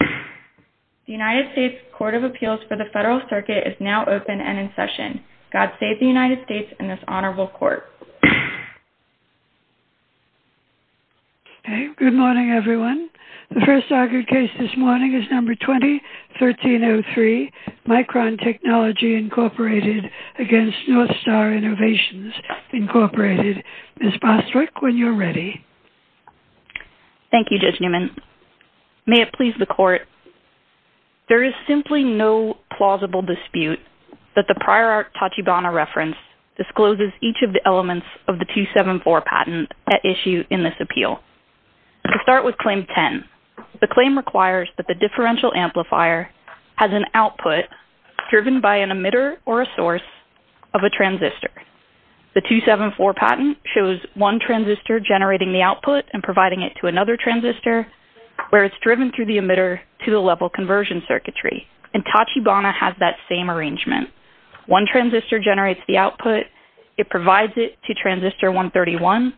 The United States Court of Appeals for the Federal Circuit is now open and in session. God save the United States and this honorable court. Good morning, everyone. The first argued case this morning is No. 20-1303, Micron Technology, Inc. v. North Star Innovations, Inc. Ms. Bostwick, when you're ready. Thank you, Judge Newman. May it please the court, there is simply no plausible dispute that the prior art Tachibana reference discloses each of the elements of the 274 patent at issue in this appeal. Let's start with Claim 10. The claim requires that the differential amplifier has an output driven by an emitter or a source of a transistor. The 274 patent shows one transistor generating the output and providing it to another transistor where it's driven through the emitter to the level conversion circuitry. And Tachibana has that same arrangement. One transistor generates the output, it provides it to transistor 131,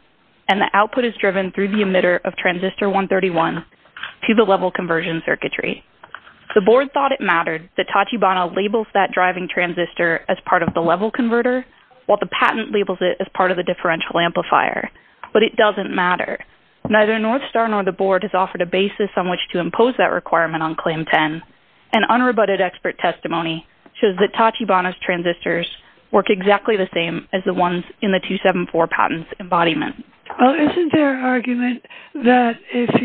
and the output is driven through the emitter of transistor 131 to the level conversion circuitry. The board thought it mattered that Tachibana labels that driving transistor as part of the level converter, while the patent labels it as part of the differential amplifier. But it doesn't matter. Neither North Star nor the board has offered a basis on which to impose that requirement on Claim 10. And unrebutted expert testimony shows that Tachibana's transistors work exactly the same as the ones in the 274 patent's embodiment. Well, isn't there an argument that if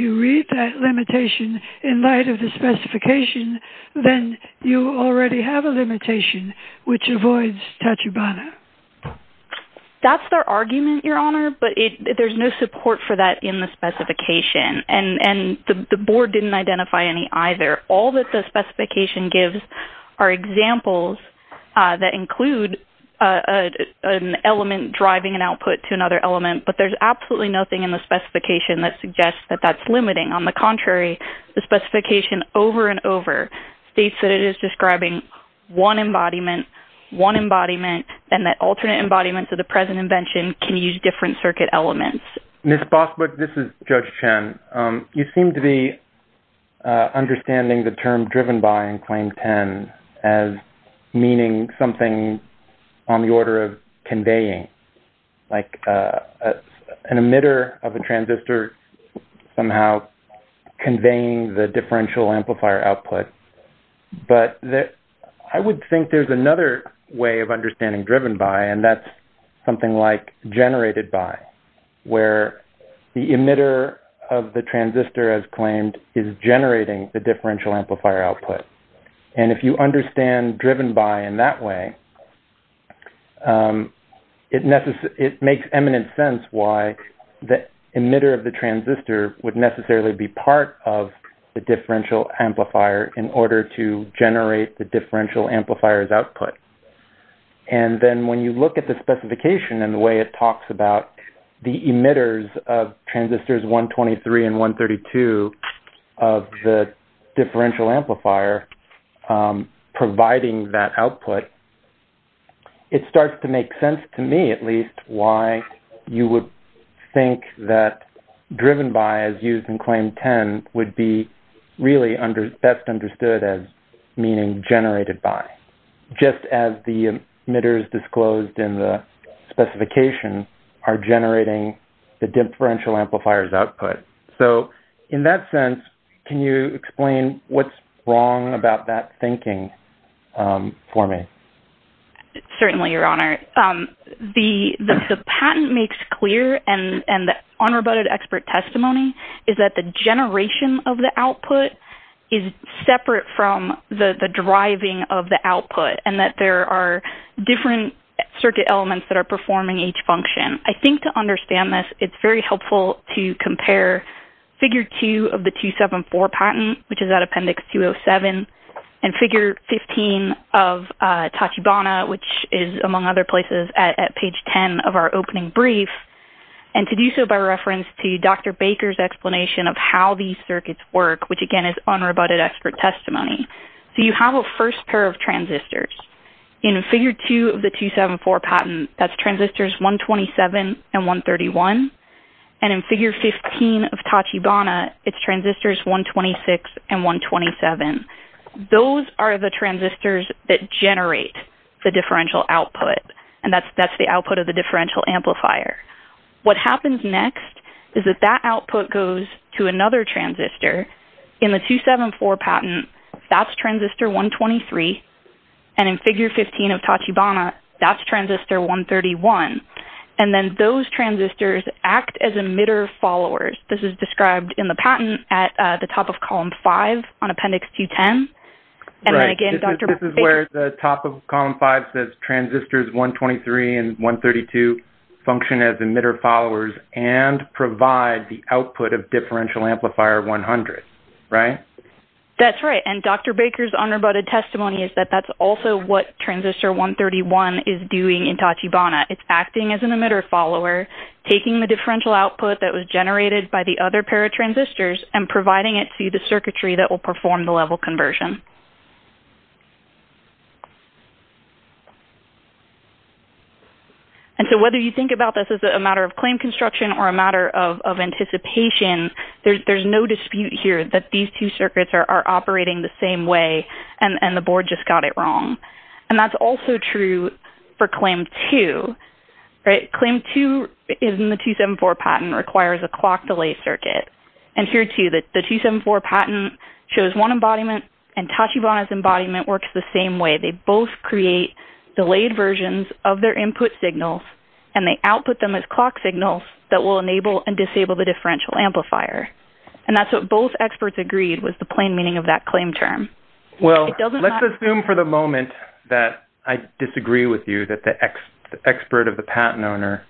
you read that limitation in light of the specification, then you already have a limitation which avoids Tachibana? That's their argument, Your Honor, but there's no support for that in the specification. And the board didn't identify any either. All that the specification gives are examples that include an element driving an output to another element, but there's absolutely nothing in the specification that suggests that that's limiting. On the contrary, the specification over and over states that it is describing one embodiment, one embodiment, and that alternate embodiments of the present invention can use different circuit elements. Ms. Bossbrook, this is Judge Chen. You seem to be understanding the term driven by in Claim 10 as meaning something on the order of conveying, like an emitter of a transistor somehow conveying the differential amplifier output. But I would think there's another way of understanding driven by, and that's something like generated by, where the emitter of the transistor, as claimed, is generating the differential amplifier output. And if you understand driven by in that way, it makes eminent sense why the emitter of the transistor would necessarily be part of the differential amplifier in order to generate the differential amplifier's output. And then when you look at the specification and the way it talks about the emitters of transistors 123 and 132 of the differential amplifier providing that output, it starts to make sense to me at least why you would think that driven by, as used in Claim 10, would be really best understood as meaning generated by. Just as the emitters disclosed in the specification are generating the differential amplifier's output. So in that sense, can you explain what's wrong about that thinking for me? Certainly, Your Honor. The patent makes clear, and the unroboted expert testimony, is that the generation of the output is separate from the driving of the output, and that there are different circuit elements that are performing each function. I think to understand this, it's very helpful to compare Figure 2 of the 274 patent, which is at Appendix 207, and Figure 15 of Tachibana, which is among other places at page 10 of our opening brief, and to do so by reference to Dr. Baker's explanation of how these circuits work, which again is unroboted expert testimony. So you have a first pair of transistors. In Figure 2 of the 274 patent, that's transistors 127 and 131. And in Figure 15 of Tachibana, it's transistors 126 and 127. Those are the transistors that generate the differential output, and that's the output of the differential amplifier. What happens next is that that output goes to another transistor. In the 274 patent, that's transistor 123, and in Figure 15 of Tachibana, that's transistor 131. And then those transistors act as emitter followers. This is described in the patent at the top of Column 5 on Appendix 210. This is where the top of Column 5 says transistors 123 and 132 function as emitter followers and provide the output of differential amplifier 100, right? That's right. And Dr. Baker's unroboted testimony is that that's also what transistor 131 is doing in Tachibana. It's acting as an emitter follower, taking the differential output that was generated by the other pair of transistors and providing it to the circuitry that will perform the level conversion. And so whether you think about this as a matter of claim construction or a matter of anticipation, there's no dispute here that these two circuits are operating the same way and the board just got it wrong. And that's also true for claim 2, right? Claim 2 in the 274 patent requires a clock delay circuit. And here, too, the 274 patent shows one embodiment, and Tachibana's embodiment works the same way. They both create delayed versions of their input signals, and they output them as clock signals that will enable and disable the differential amplifier. And that's what both experts agreed was the plain meaning of that claim term. Well, let's assume for the moment that I disagree with you that the expert of the patent owner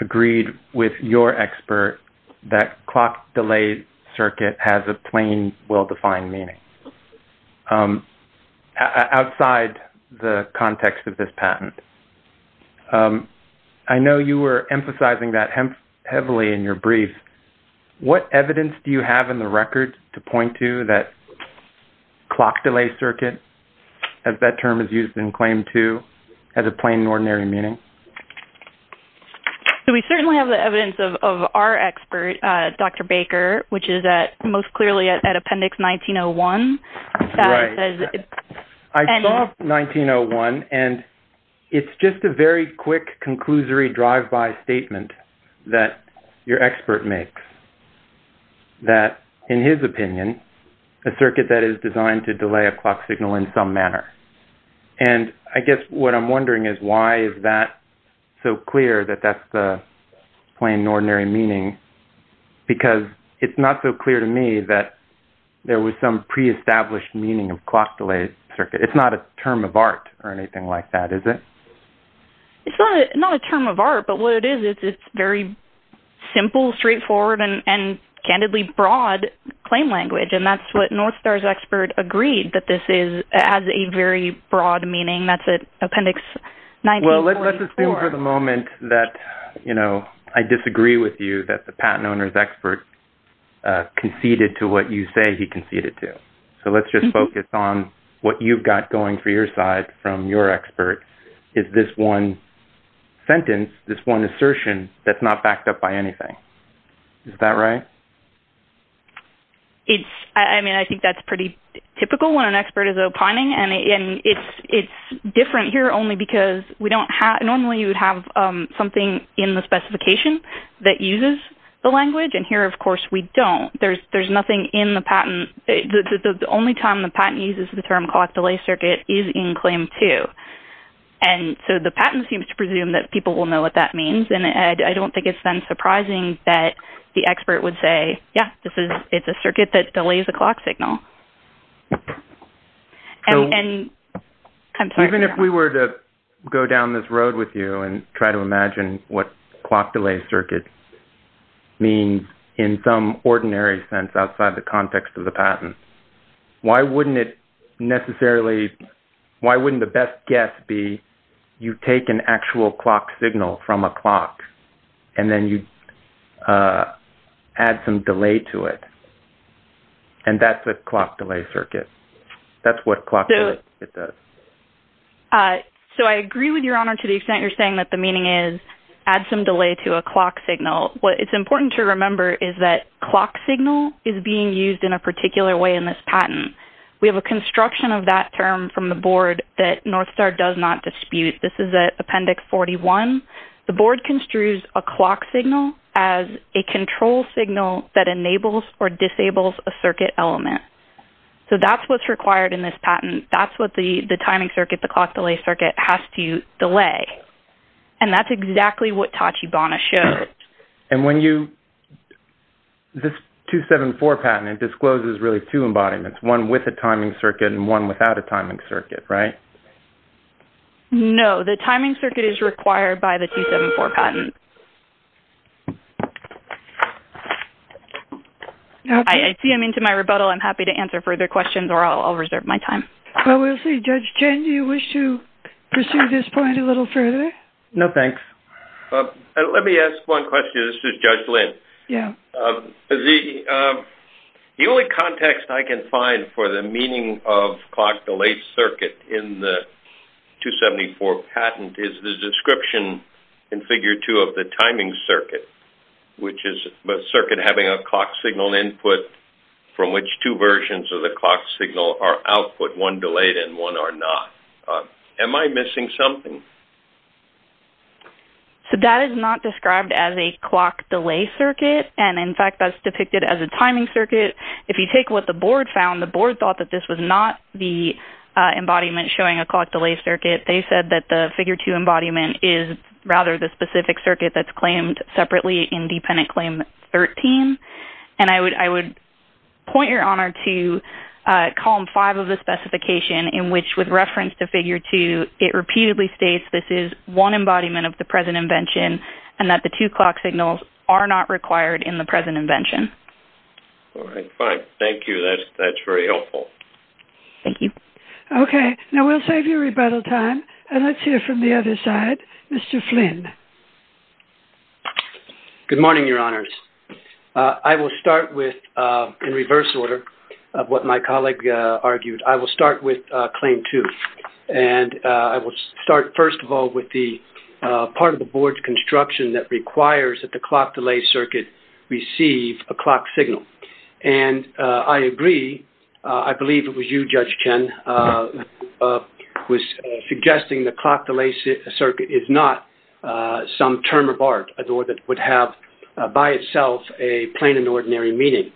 agreed with your expert that clock delay circuit has a plain, well-defined meaning outside the context of this patent. I know you were emphasizing that heavily in your brief. What evidence do you have in the record to point to that clock delay circuit, as that term is used in claim 2, has a plain and ordinary meaning? We certainly have the evidence of our expert, Dr. Baker, which is most clearly at Appendix 1901. Right. I saw 1901, and it's just a very quick, conclusory drive-by statement that your expert makes, that, in his opinion, a circuit that is designed to delay a clock signal in some manner. And I guess what I'm wondering is why is that so clear that that's the plain and ordinary meaning? Because it's not so clear to me that there was some pre-established meaning of clock delay circuit. It's not a term of art or anything like that, is it? It's not a term of art, but what it is, it's very simple, straightforward, and candidly broad claim language. And that's what North Star's expert agreed that this has a very broad meaning. That's at Appendix 1944. Let's assume for the moment that, you know, I disagree with you that the patent owner's expert conceded to what you say he conceded to. So let's just focus on what you've got going for your side from your expert, is this one sentence, this one assertion that's not backed up by anything. Is that right? I mean, I think that's pretty typical when an expert is opining, and it's different here only because normally you would have something in the specification that uses the language, and here, of course, we don't. There's nothing in the patent. The only time the patent uses the term clock delay circuit is in Claim 2. And so the patent seems to presume that people will know what that means, and I don't think it's then surprising that the expert would say, yeah, it's a circuit that delays a clock signal. Even if we were to go down this road with you and try to imagine what clock delay circuit means in some ordinary sense outside the context of the patent, why wouldn't it necessarily, why wouldn't the best guess be you take an actual clock signal from a clock, and then you add some delay to it? And that's a clock delay circuit. That's what clock delay circuit does. So I agree with your honor to the extent you're saying that the meaning is add some delay to a clock signal. What's important to remember is that clock signal is being used in a particular way in this patent. We have a construction of that term from the board that Northstar does not dispute. This is Appendix 41. The board construes a clock signal as a control signal that enables or disables a circuit element. So that's what's required in this patent. That's what the timing circuit, the clock delay circuit, has to delay. And that's exactly what Tachi Bana showed. And when you, this 274 patent, it discloses really two embodiments, one with a timing circuit and one without a timing circuit, right? No, the timing circuit is required by the 274 patent. Okay. I see him into my rebuttal. I'm happy to answer further questions, or I'll reserve my time. Well, we'll see. Judge Chen, do you wish to pursue this point a little further? No, thanks. Let me ask one question. This is Judge Lynn. Yeah. The only context I can find for the meaning of clock delay circuit in the 274 patent is the description in Figure 2 of the timing circuit, which is a circuit having a clock signal input from which two versions of the clock signal are output, one delayed and one are not. Am I missing something? So that is not described as a clock delay circuit. And, in fact, that's depicted as a timing circuit. If you take what the board found, the board thought that this was not the embodiment showing a clock delay circuit. They said that the Figure 2 embodiment is rather the specific circuit that's claimed separately in dependent claim 13. And I would point your honor to Column 5 of the specification in which, with reference to Figure 2, it repeatedly states this is one embodiment of the present invention and that the two clock signals are not required in the present invention. All right. Fine. Thank you. That's very helpful. Thank you. Okay. Now, we'll save you rebuttal time, and let's hear from the other side. Mr. Flynn. Good morning, Your Honors. I will start with, in reverse order of what my colleague argued, I will start with Claim 2. And I will start, first of all, with the part of the board's construction that requires that the clock delay circuit receive a clock signal. And I agree. I believe it was you, Judge Chen, who was suggesting the clock delay circuit is not some term of art, nor that it would have, by itself, a plain and ordinary meaning.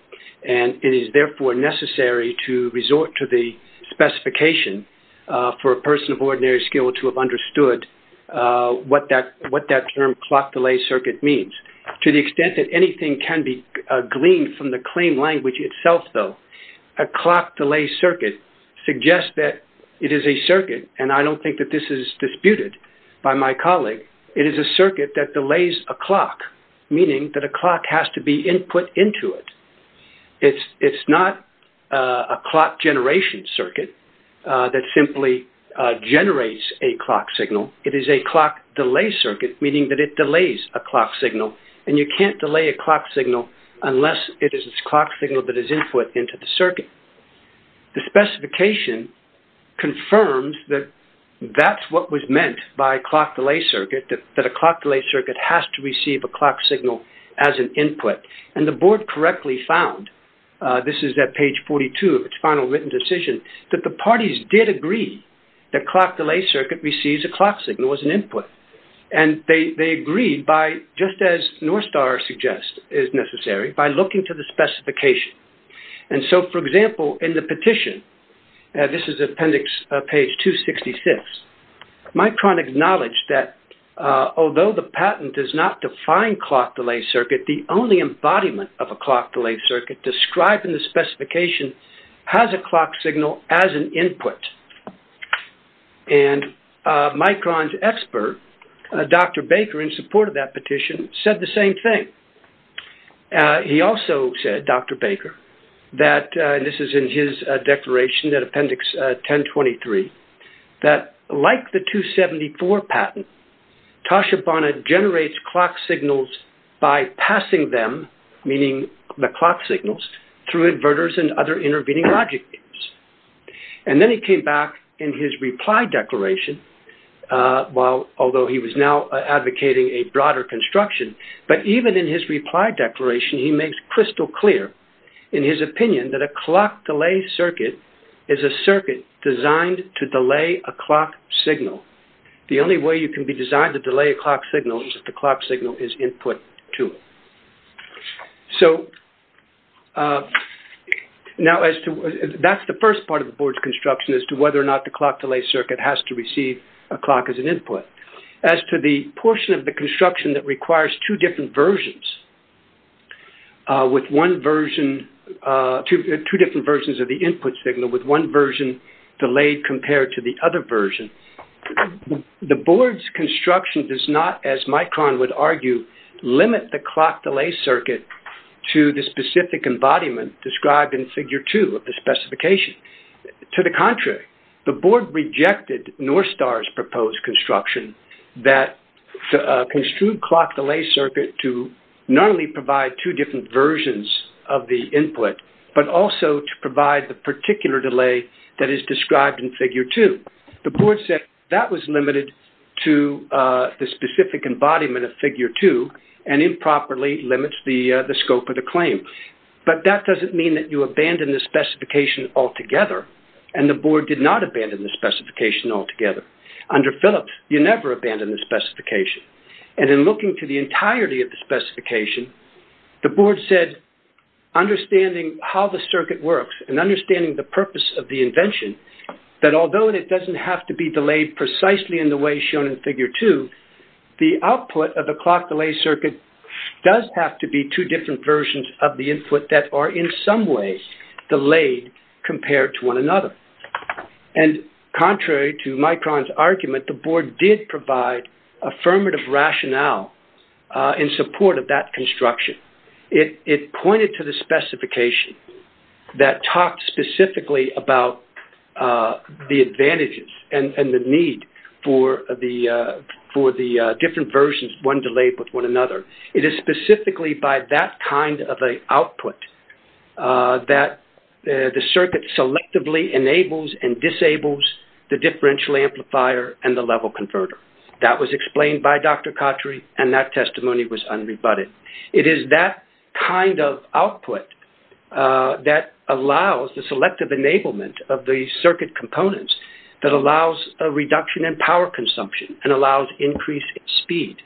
And it is, therefore, necessary to resort to the specification for a person of ordinary skill to have understood what that term, clock delay circuit, means. To the extent that anything can be gleaned from the claim language itself, though, a clock delay circuit suggests that it is a circuit, and I don't think that this is disputed by my colleague, it is a circuit that delays a clock, meaning that a clock has to be put into it. It's not a clock generation circuit that simply generates a clock signal. It is a clock delay circuit, meaning that it delays a clock signal, and you can't delay a clock signal unless it is a clock signal that is input into the circuit. The specification confirms that that's what was meant by clock delay circuit, that a clock delay circuit has to receive a clock signal as an input. And the board correctly found, this is at page 42 of its final written decision, that the parties did agree that clock delay circuit receives a clock signal as an input. And they agreed by, just as Northstar suggests is necessary, by looking to the specification. And so, for example, in the petition, this is appendix, page 266, Micron acknowledged that although the patent does not define clock delay circuit, the only embodiment of a clock delay circuit described in the specification has a clock signal as an input. And Micron's expert, Dr. Baker, in support of that petition, said the same thing. He also said, Dr. Baker, that, and this is in his declaration at appendix 1023, that like the 274 patent, Toshibana generates clock signals by passing them, meaning the clock signals, through inverters and other intervening logic gates. And then he came back in his reply declaration, although he was now advocating a broader construction, but even in his reply declaration, he makes crystal clear in his opinion that a clock delay circuit is a circuit designed to delay a clock signal. The only way you can be designed to delay a clock signal is if the clock signal is input to it. So, now as to, that's the first part of the board's construction, as to whether or not the clock delay circuit has to receive a clock as an input. As to the portion of the construction that requires two different versions, with one version, two different versions of the input signal, with one version delayed compared to the other version, the board's construction does not, as Micron would argue, limit the clock delay circuit to the specific embodiment described in figure two of the specification. To the contrary, the board rejected Northstar's proposed construction that construed clock delay circuit to not only provide two different versions of the input, but also to provide the particular delay that is described in figure two. The board said that was limited to the specific embodiment of figure two and improperly limits the scope of the claim. But that doesn't mean that you abandon the specification altogether, and the board did not abandon the specification altogether. Under Phillips, you never abandon the specification. And in looking to the entirety of the specification, the board said, understanding how the circuit works, and understanding the purpose of the invention, that although it doesn't have to be delayed precisely in the way shown in figure two, the output of the clock delay circuit does have to be two different versions of the input that are in some way delayed compared to one another. And contrary to Micron's argument, the board did provide affirmative rationale in support of that construction. It pointed to the specification that talked specifically about the advantages and the need for the different versions, one delayed with one another. It is specifically by that kind of an output that the circuit selectively enables and disables the differential amplifier and the level converter. That was explained by Dr. Khatri, and that testimony was unrebutted. It is that kind of output that allows the selective enablement of the circuit components that allows a reduction in power consumption and allows increased speed.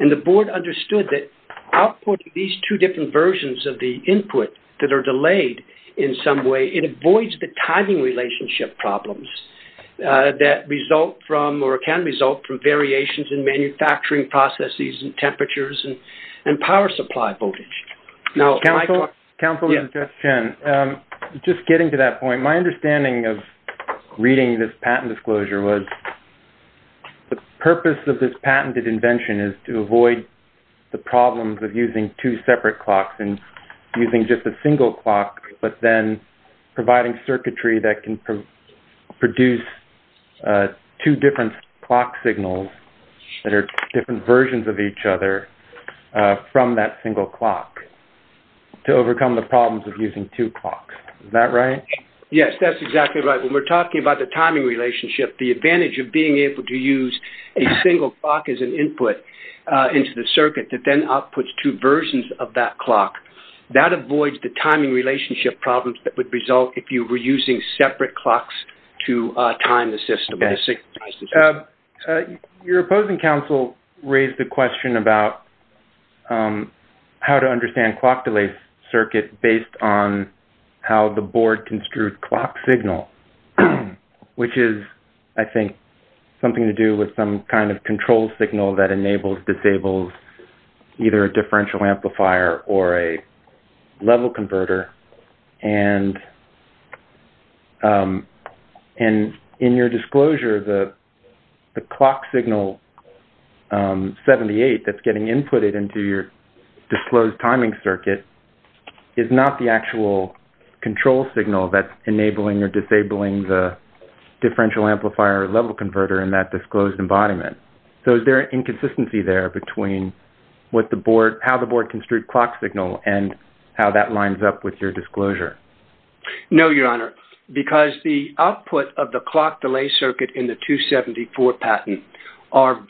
And the board understood that output of these two different versions of the input that are delayed in some way, it avoids the timing relationship problems that result from or can result from variations in manufacturing processes and temperatures and power supply voltage. Councilman Jess Chen, just getting to that point, my understanding of reading this patent disclosure was the purpose of this patented invention is to avoid the problems of using two separate clocks and using just a single clock, but then providing circuitry that can produce two different clock signals that are different versions of each other from that single clock to overcome the problems of using two clocks. Is that right? Yes, that's exactly right. When we're talking about the timing relationship, the advantage of being able to use a single clock as an input into the circuit that then outputs two versions of that clock, that avoids the timing relationship problems that would result if you were using separate clocks to time the system. Your opposing counsel raised the question about how to understand clock delay circuit based on how the board construed clock signal, which is, I think, something to do with some kind of control signal that enables, disables either a differential amplifier or a level converter. And in your disclosure, the clock signal 78 that's getting inputted into your disclosed timing circuit is not the actual control signal that's enabling or disabling the differential amplifier or level converter in that disclosed embodiment. So is there an inconsistency there between how the board construed clock signal and how that lines up with your disclosure? No, Your Honor, because the output of the clock delay circuit in the 274 patent are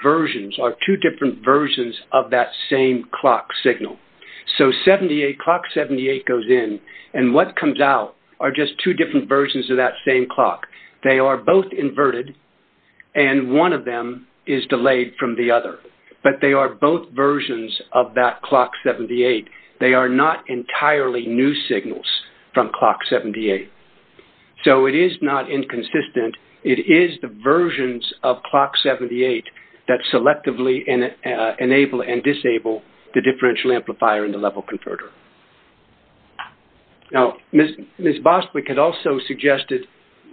two different versions of that same clock signal. So clock 78 goes in, and what comes out are just two different versions of that same clock. They are both inverted, and one of them is delayed from the other. But they are both versions of that clock 78. They are not entirely new signals from clock 78. So it is not inconsistent. It is the versions of clock 78 that selectively enable and disable the differential amplifier and the level converter. Now, Ms. Boswick had also suggested,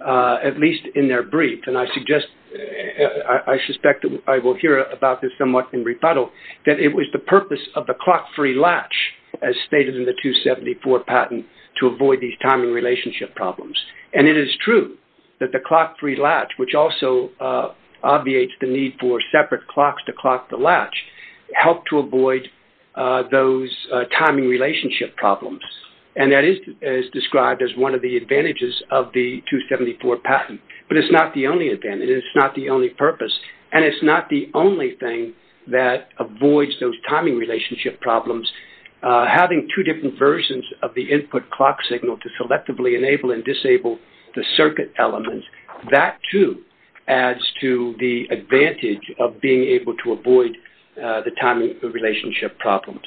at least in their brief, and I suggest, I suspect I will hear about this somewhat in rebuttal, that it was the purpose of the clock-free latch, as stated in the 274 patent, to avoid these timing relationship problems. And it is true that the clock-free latch, which also obviates the need for separate clocks to clock the latch, helped to avoid those timing relationship problems. And that is described as one of the advantages of the 274 patent. But it is not the only advantage. It is not the only purpose. And it is not the only thing that avoids those timing relationship problems. Having two different versions of the input clock signal to selectively enable and disable the circuit elements, that, too, adds to the advantage of being able to avoid the timing relationship problems.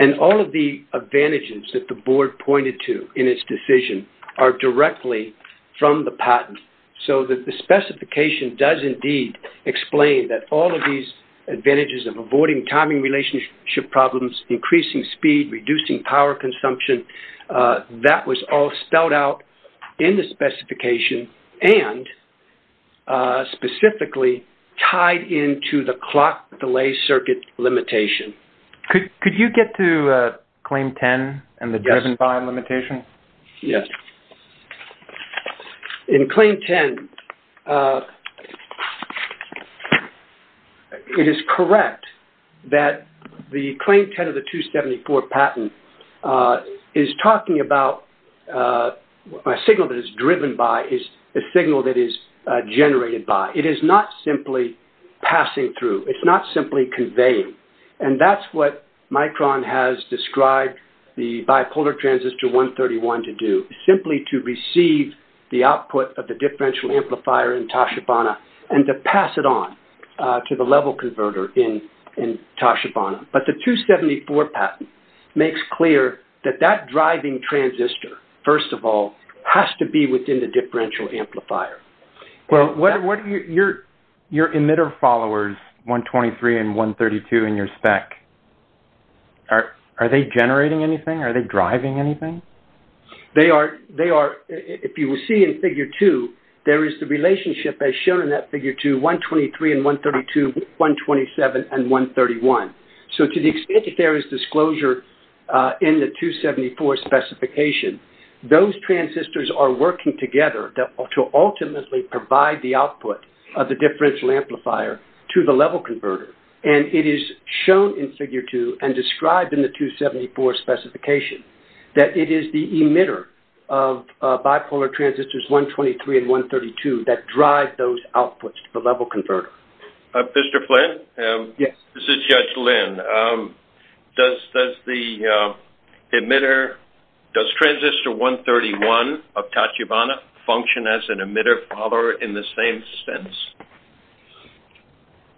And all of the advantages that the Board pointed to in its decision are directly from the patent. So the specification does indeed explain that all of these advantages of avoiding timing relationship problems, increasing speed, reducing power consumption, that was all spelled out in the specification and specifically tied into the clock delay circuit limitation. Could you get to Claim 10 and the driven time limitation? Yes. In Claim 10, it is correct that the Claim 10 of the 274 patent is talking about a signal that is driven by a signal that is generated by. It is not simply passing through. It's not simply conveying. And that's what Micron has described the bipolar transistor 131 to do, simply to receive the output of the differential amplifier in Toshibana and to pass it on to the level converter in Toshibana. But the 274 patent makes clear that that driving transistor, first of all, has to be within the differential amplifier. Your emitter followers, 123 and 132, in your spec, are they generating anything? Are they driving anything? They are. If you will see in Figure 2, there is the relationship, as shown in that Figure 2, 123 and 132, 127 and 131. So to the extent that there is disclosure in the 274 specification, those transistors are working together to ultimately provide the output of the differential amplifier to the level converter. And it is shown in Figure 2 and described in the 274 specification that it is the emitter of bipolar transistors 123 and 132 that drive those outputs to the level converter. Mr. Flynn? Yes. This is Judge Lynn. Does the emitter, does transistor 131 of Toshibana function as an emitter follower in the same sense?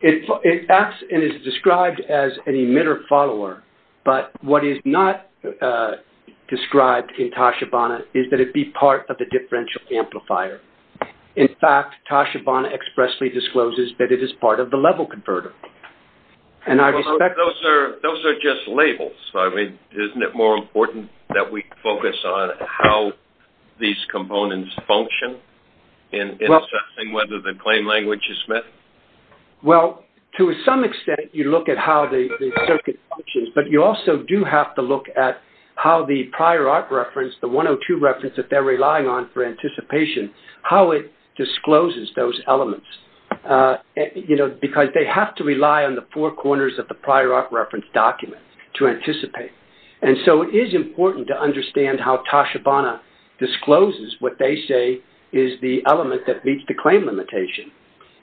It acts and is described as an emitter follower, but what is not described in Toshibana is that it be part of the differential amplifier. In fact, Toshibana expressly discloses that it is part of the level converter. Those are just labels. Isn't it more important that we focus on how these components function in assessing whether the claim language is met? Well, to some extent you look at how the circuit functions, but you also do have to look at how the prior art reference, the 102 reference that they're relying on for anticipation, how it discloses those elements. You know, because they have to rely on the four corners of the prior art reference document to anticipate. And so it is important to understand how Toshibana discloses what they say is the element that meets the claim limitation.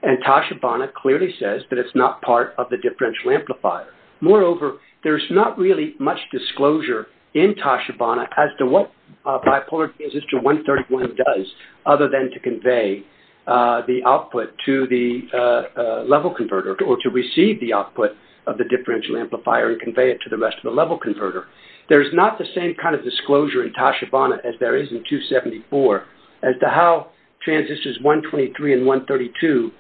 And Toshibana clearly says that it's not part of the differential amplifier. Moreover, there's not really much disclosure in Toshibana as to what bipolar transistor 131 does, other than to convey the output to the level converter or to receive the output of the differential amplifier and convey it to the rest of the level converter. There's not the same kind of disclosure in Toshibana as there is in 274 as to how transistors 123 and 132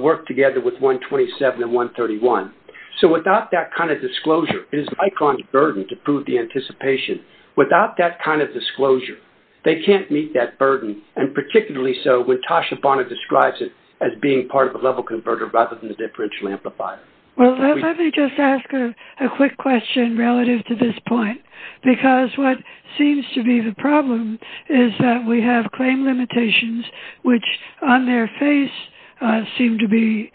work together with 127 and 131. So without that kind of disclosure, it is Micron's burden to prove the anticipation. Without that kind of disclosure, they can't meet that burden, and particularly so when Toshibana describes it as being part of a level converter rather than a differential amplifier. Well, let me just ask a quick question relative to this point, because what seems to be the problem is that we have claim limitations which on their face seem to be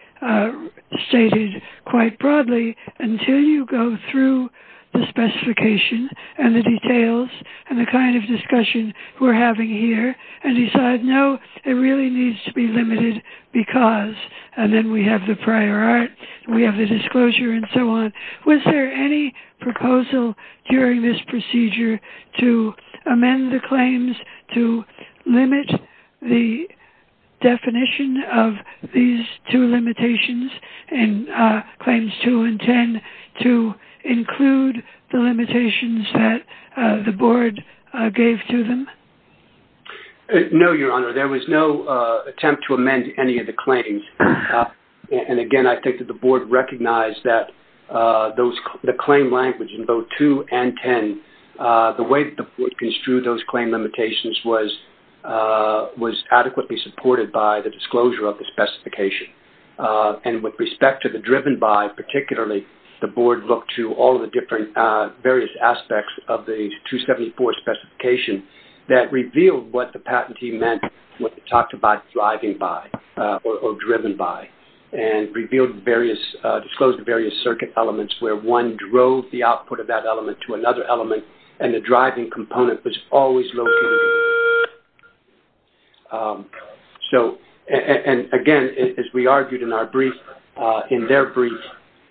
stated quite broadly until you go through the specification and the details and the kind of discussion we're having here and decide no, it really needs to be limited because. And then we have the prior art, we have the disclosure, and so on. Was there any proposal during this procedure to amend the claims to limit the definition of these two limitations and claims 2 and 10 to include the limitations that the board gave to them? No, Your Honor. There was no attempt to amend any of the claims. And, again, I think that the board recognized that the claim language in both 2 and 10, the way that the board construed those claim limitations was adequately supported by the disclosure of the specification. And with respect to the driven by, particularly, the board looked to all the different various aspects of the 274 specification that revealed what the patentee meant when it talked about driving by or driven by and disclosed the various circuit elements where one drove the output of that element to another element and the driving component was always located. So, and, again, as we argued in our brief, in their brief,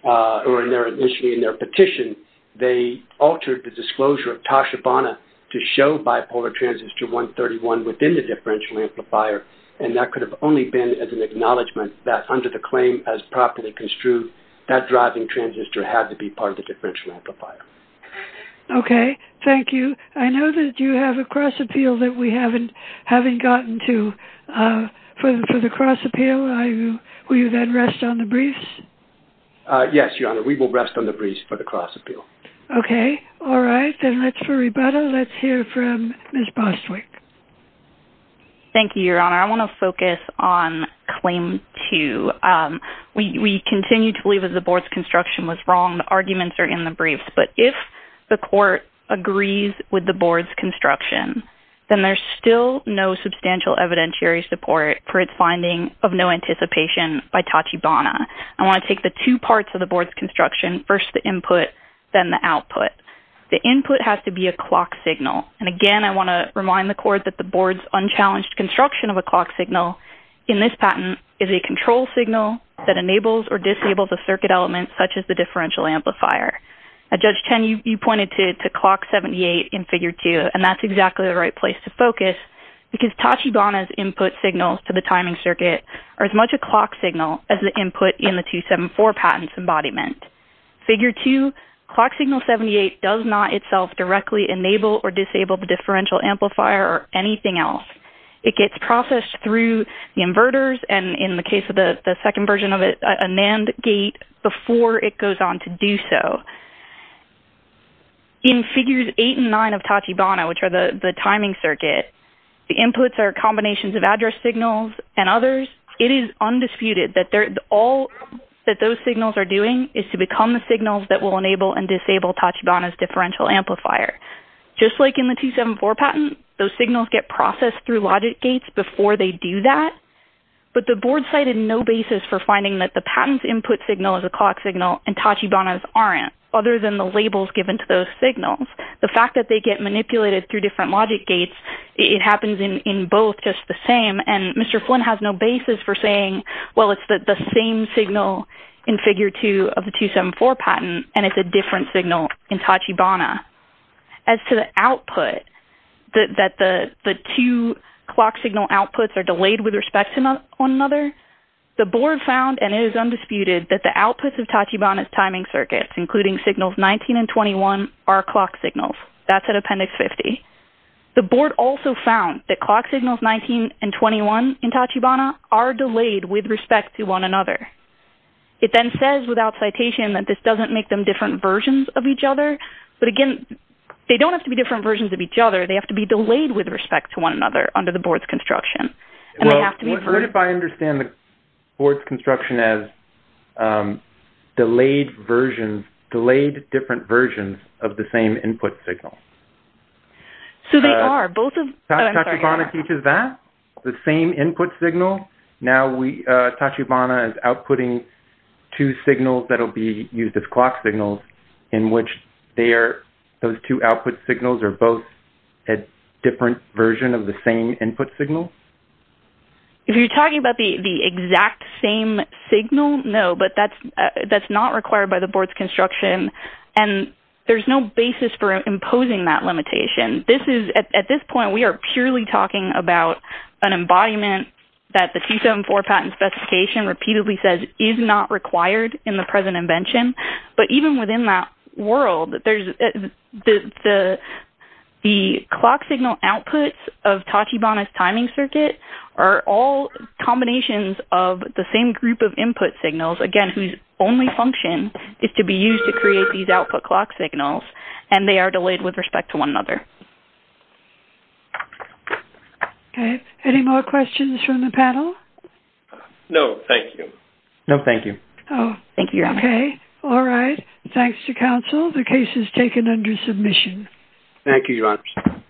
or initially in their petition, they altered the disclosure of TASHA BANA to show bipolar transistor 131 within the differential amplifier and that could have only been as an acknowledgement that under the claim as properly construed, that driving transistor had to be part of the differential amplifier. Okay. Thank you. I know that you have a cross appeal that we haven't gotten to. For the cross appeal, will you then rest on the briefs? Yes, Your Honor. We will rest on the briefs for the cross appeal. Okay. All right. Then let's, for rebuttal, let's hear from Ms. Bostwick. Thank you, Your Honor. I want to focus on claim two. We continue to believe that the board's construction was wrong. The arguments are in the briefs. But if the court agrees with the board's construction, then there's still no substantial evidentiary support for its finding of no anticipation by TASHA BANA. I want to take the two parts of the board's construction, first the input, then the output. The input has to be a clock signal. And, again, I want to remind the court that the board's unchallenged construction of a clock signal in this patent is a control signal that enables or disables a circuit element such as the differential amplifier. Now, Judge Chen, you pointed to clock 78 in figure two, and that's exactly the right place to focus, because TASHA BANA's input signals to the timing circuit are as much a clock signal as the input in the 274 patent's embodiment. Figure two, clock signal 78 does not itself directly enable or disable the differential amplifier or anything else. It gets processed through the inverters and, in the case of the second version of it, a NAND gate before it goes on to do so. In figures eight and nine of TASHA BANA, which are the timing circuit, the inputs are combinations of address signals and others. It is undisputed that all that those signals are doing is to become the signals that will enable and disable TASHA BANA's differential amplifier. Just like in the 274 patent, those signals get processed through logic gates before they do that, but the board cited no basis for finding that the patent's input signal is a clock signal and TASHA BANA's aren't, other than the labels given to those signals. The fact that they get manipulated through different logic gates, it happens in both just the same, and Mr. Flynn has no basis for saying, well, it's the same signal in figure two of the 274 patent, and it's a different signal in TASHA BANA. As to the output, that the two clock signal outputs are delayed with respect to one another, the board found, and it is undisputed, that the outputs of TASHA BANA's timing circuits, including signals 19 and 21, are clock signals. That's at appendix 50. The board also found that clock signals 19 and 21 in TASHA BANA are delayed with respect to one another. It then says without citation that this doesn't make them different versions of each other, but again, they don't have to be different versions of each other, they have to be delayed with respect to one another under the board's construction, and they have to be... Well, what if I understand the board's construction as delayed versions, of the same input signal? So they are both of... TASHA BANA teaches that? The same input signal? Now TASHA BANA is outputting two signals that will be used as clock signals in which those two output signals are both a different version of the same input signal? If you're talking about the exact same signal, no, but that's not required by the board's construction, and there's no basis for imposing that limitation. At this point, we are purely talking about an embodiment that the 274 patent specification repeatedly says is not required in the present invention, but even within that world, the clock signal outputs of TASHA BANA's timing circuit are all combinations of the same group of input signals, again, whose only function is to be used to create these output clock signals, and they are delayed with respect to one another. Okay, any more questions from the panel? No, thank you. Oh, okay. Thank you, Your Honor. All right, thanks to counsel. The case is taken under submission. Thank you, Your Honor.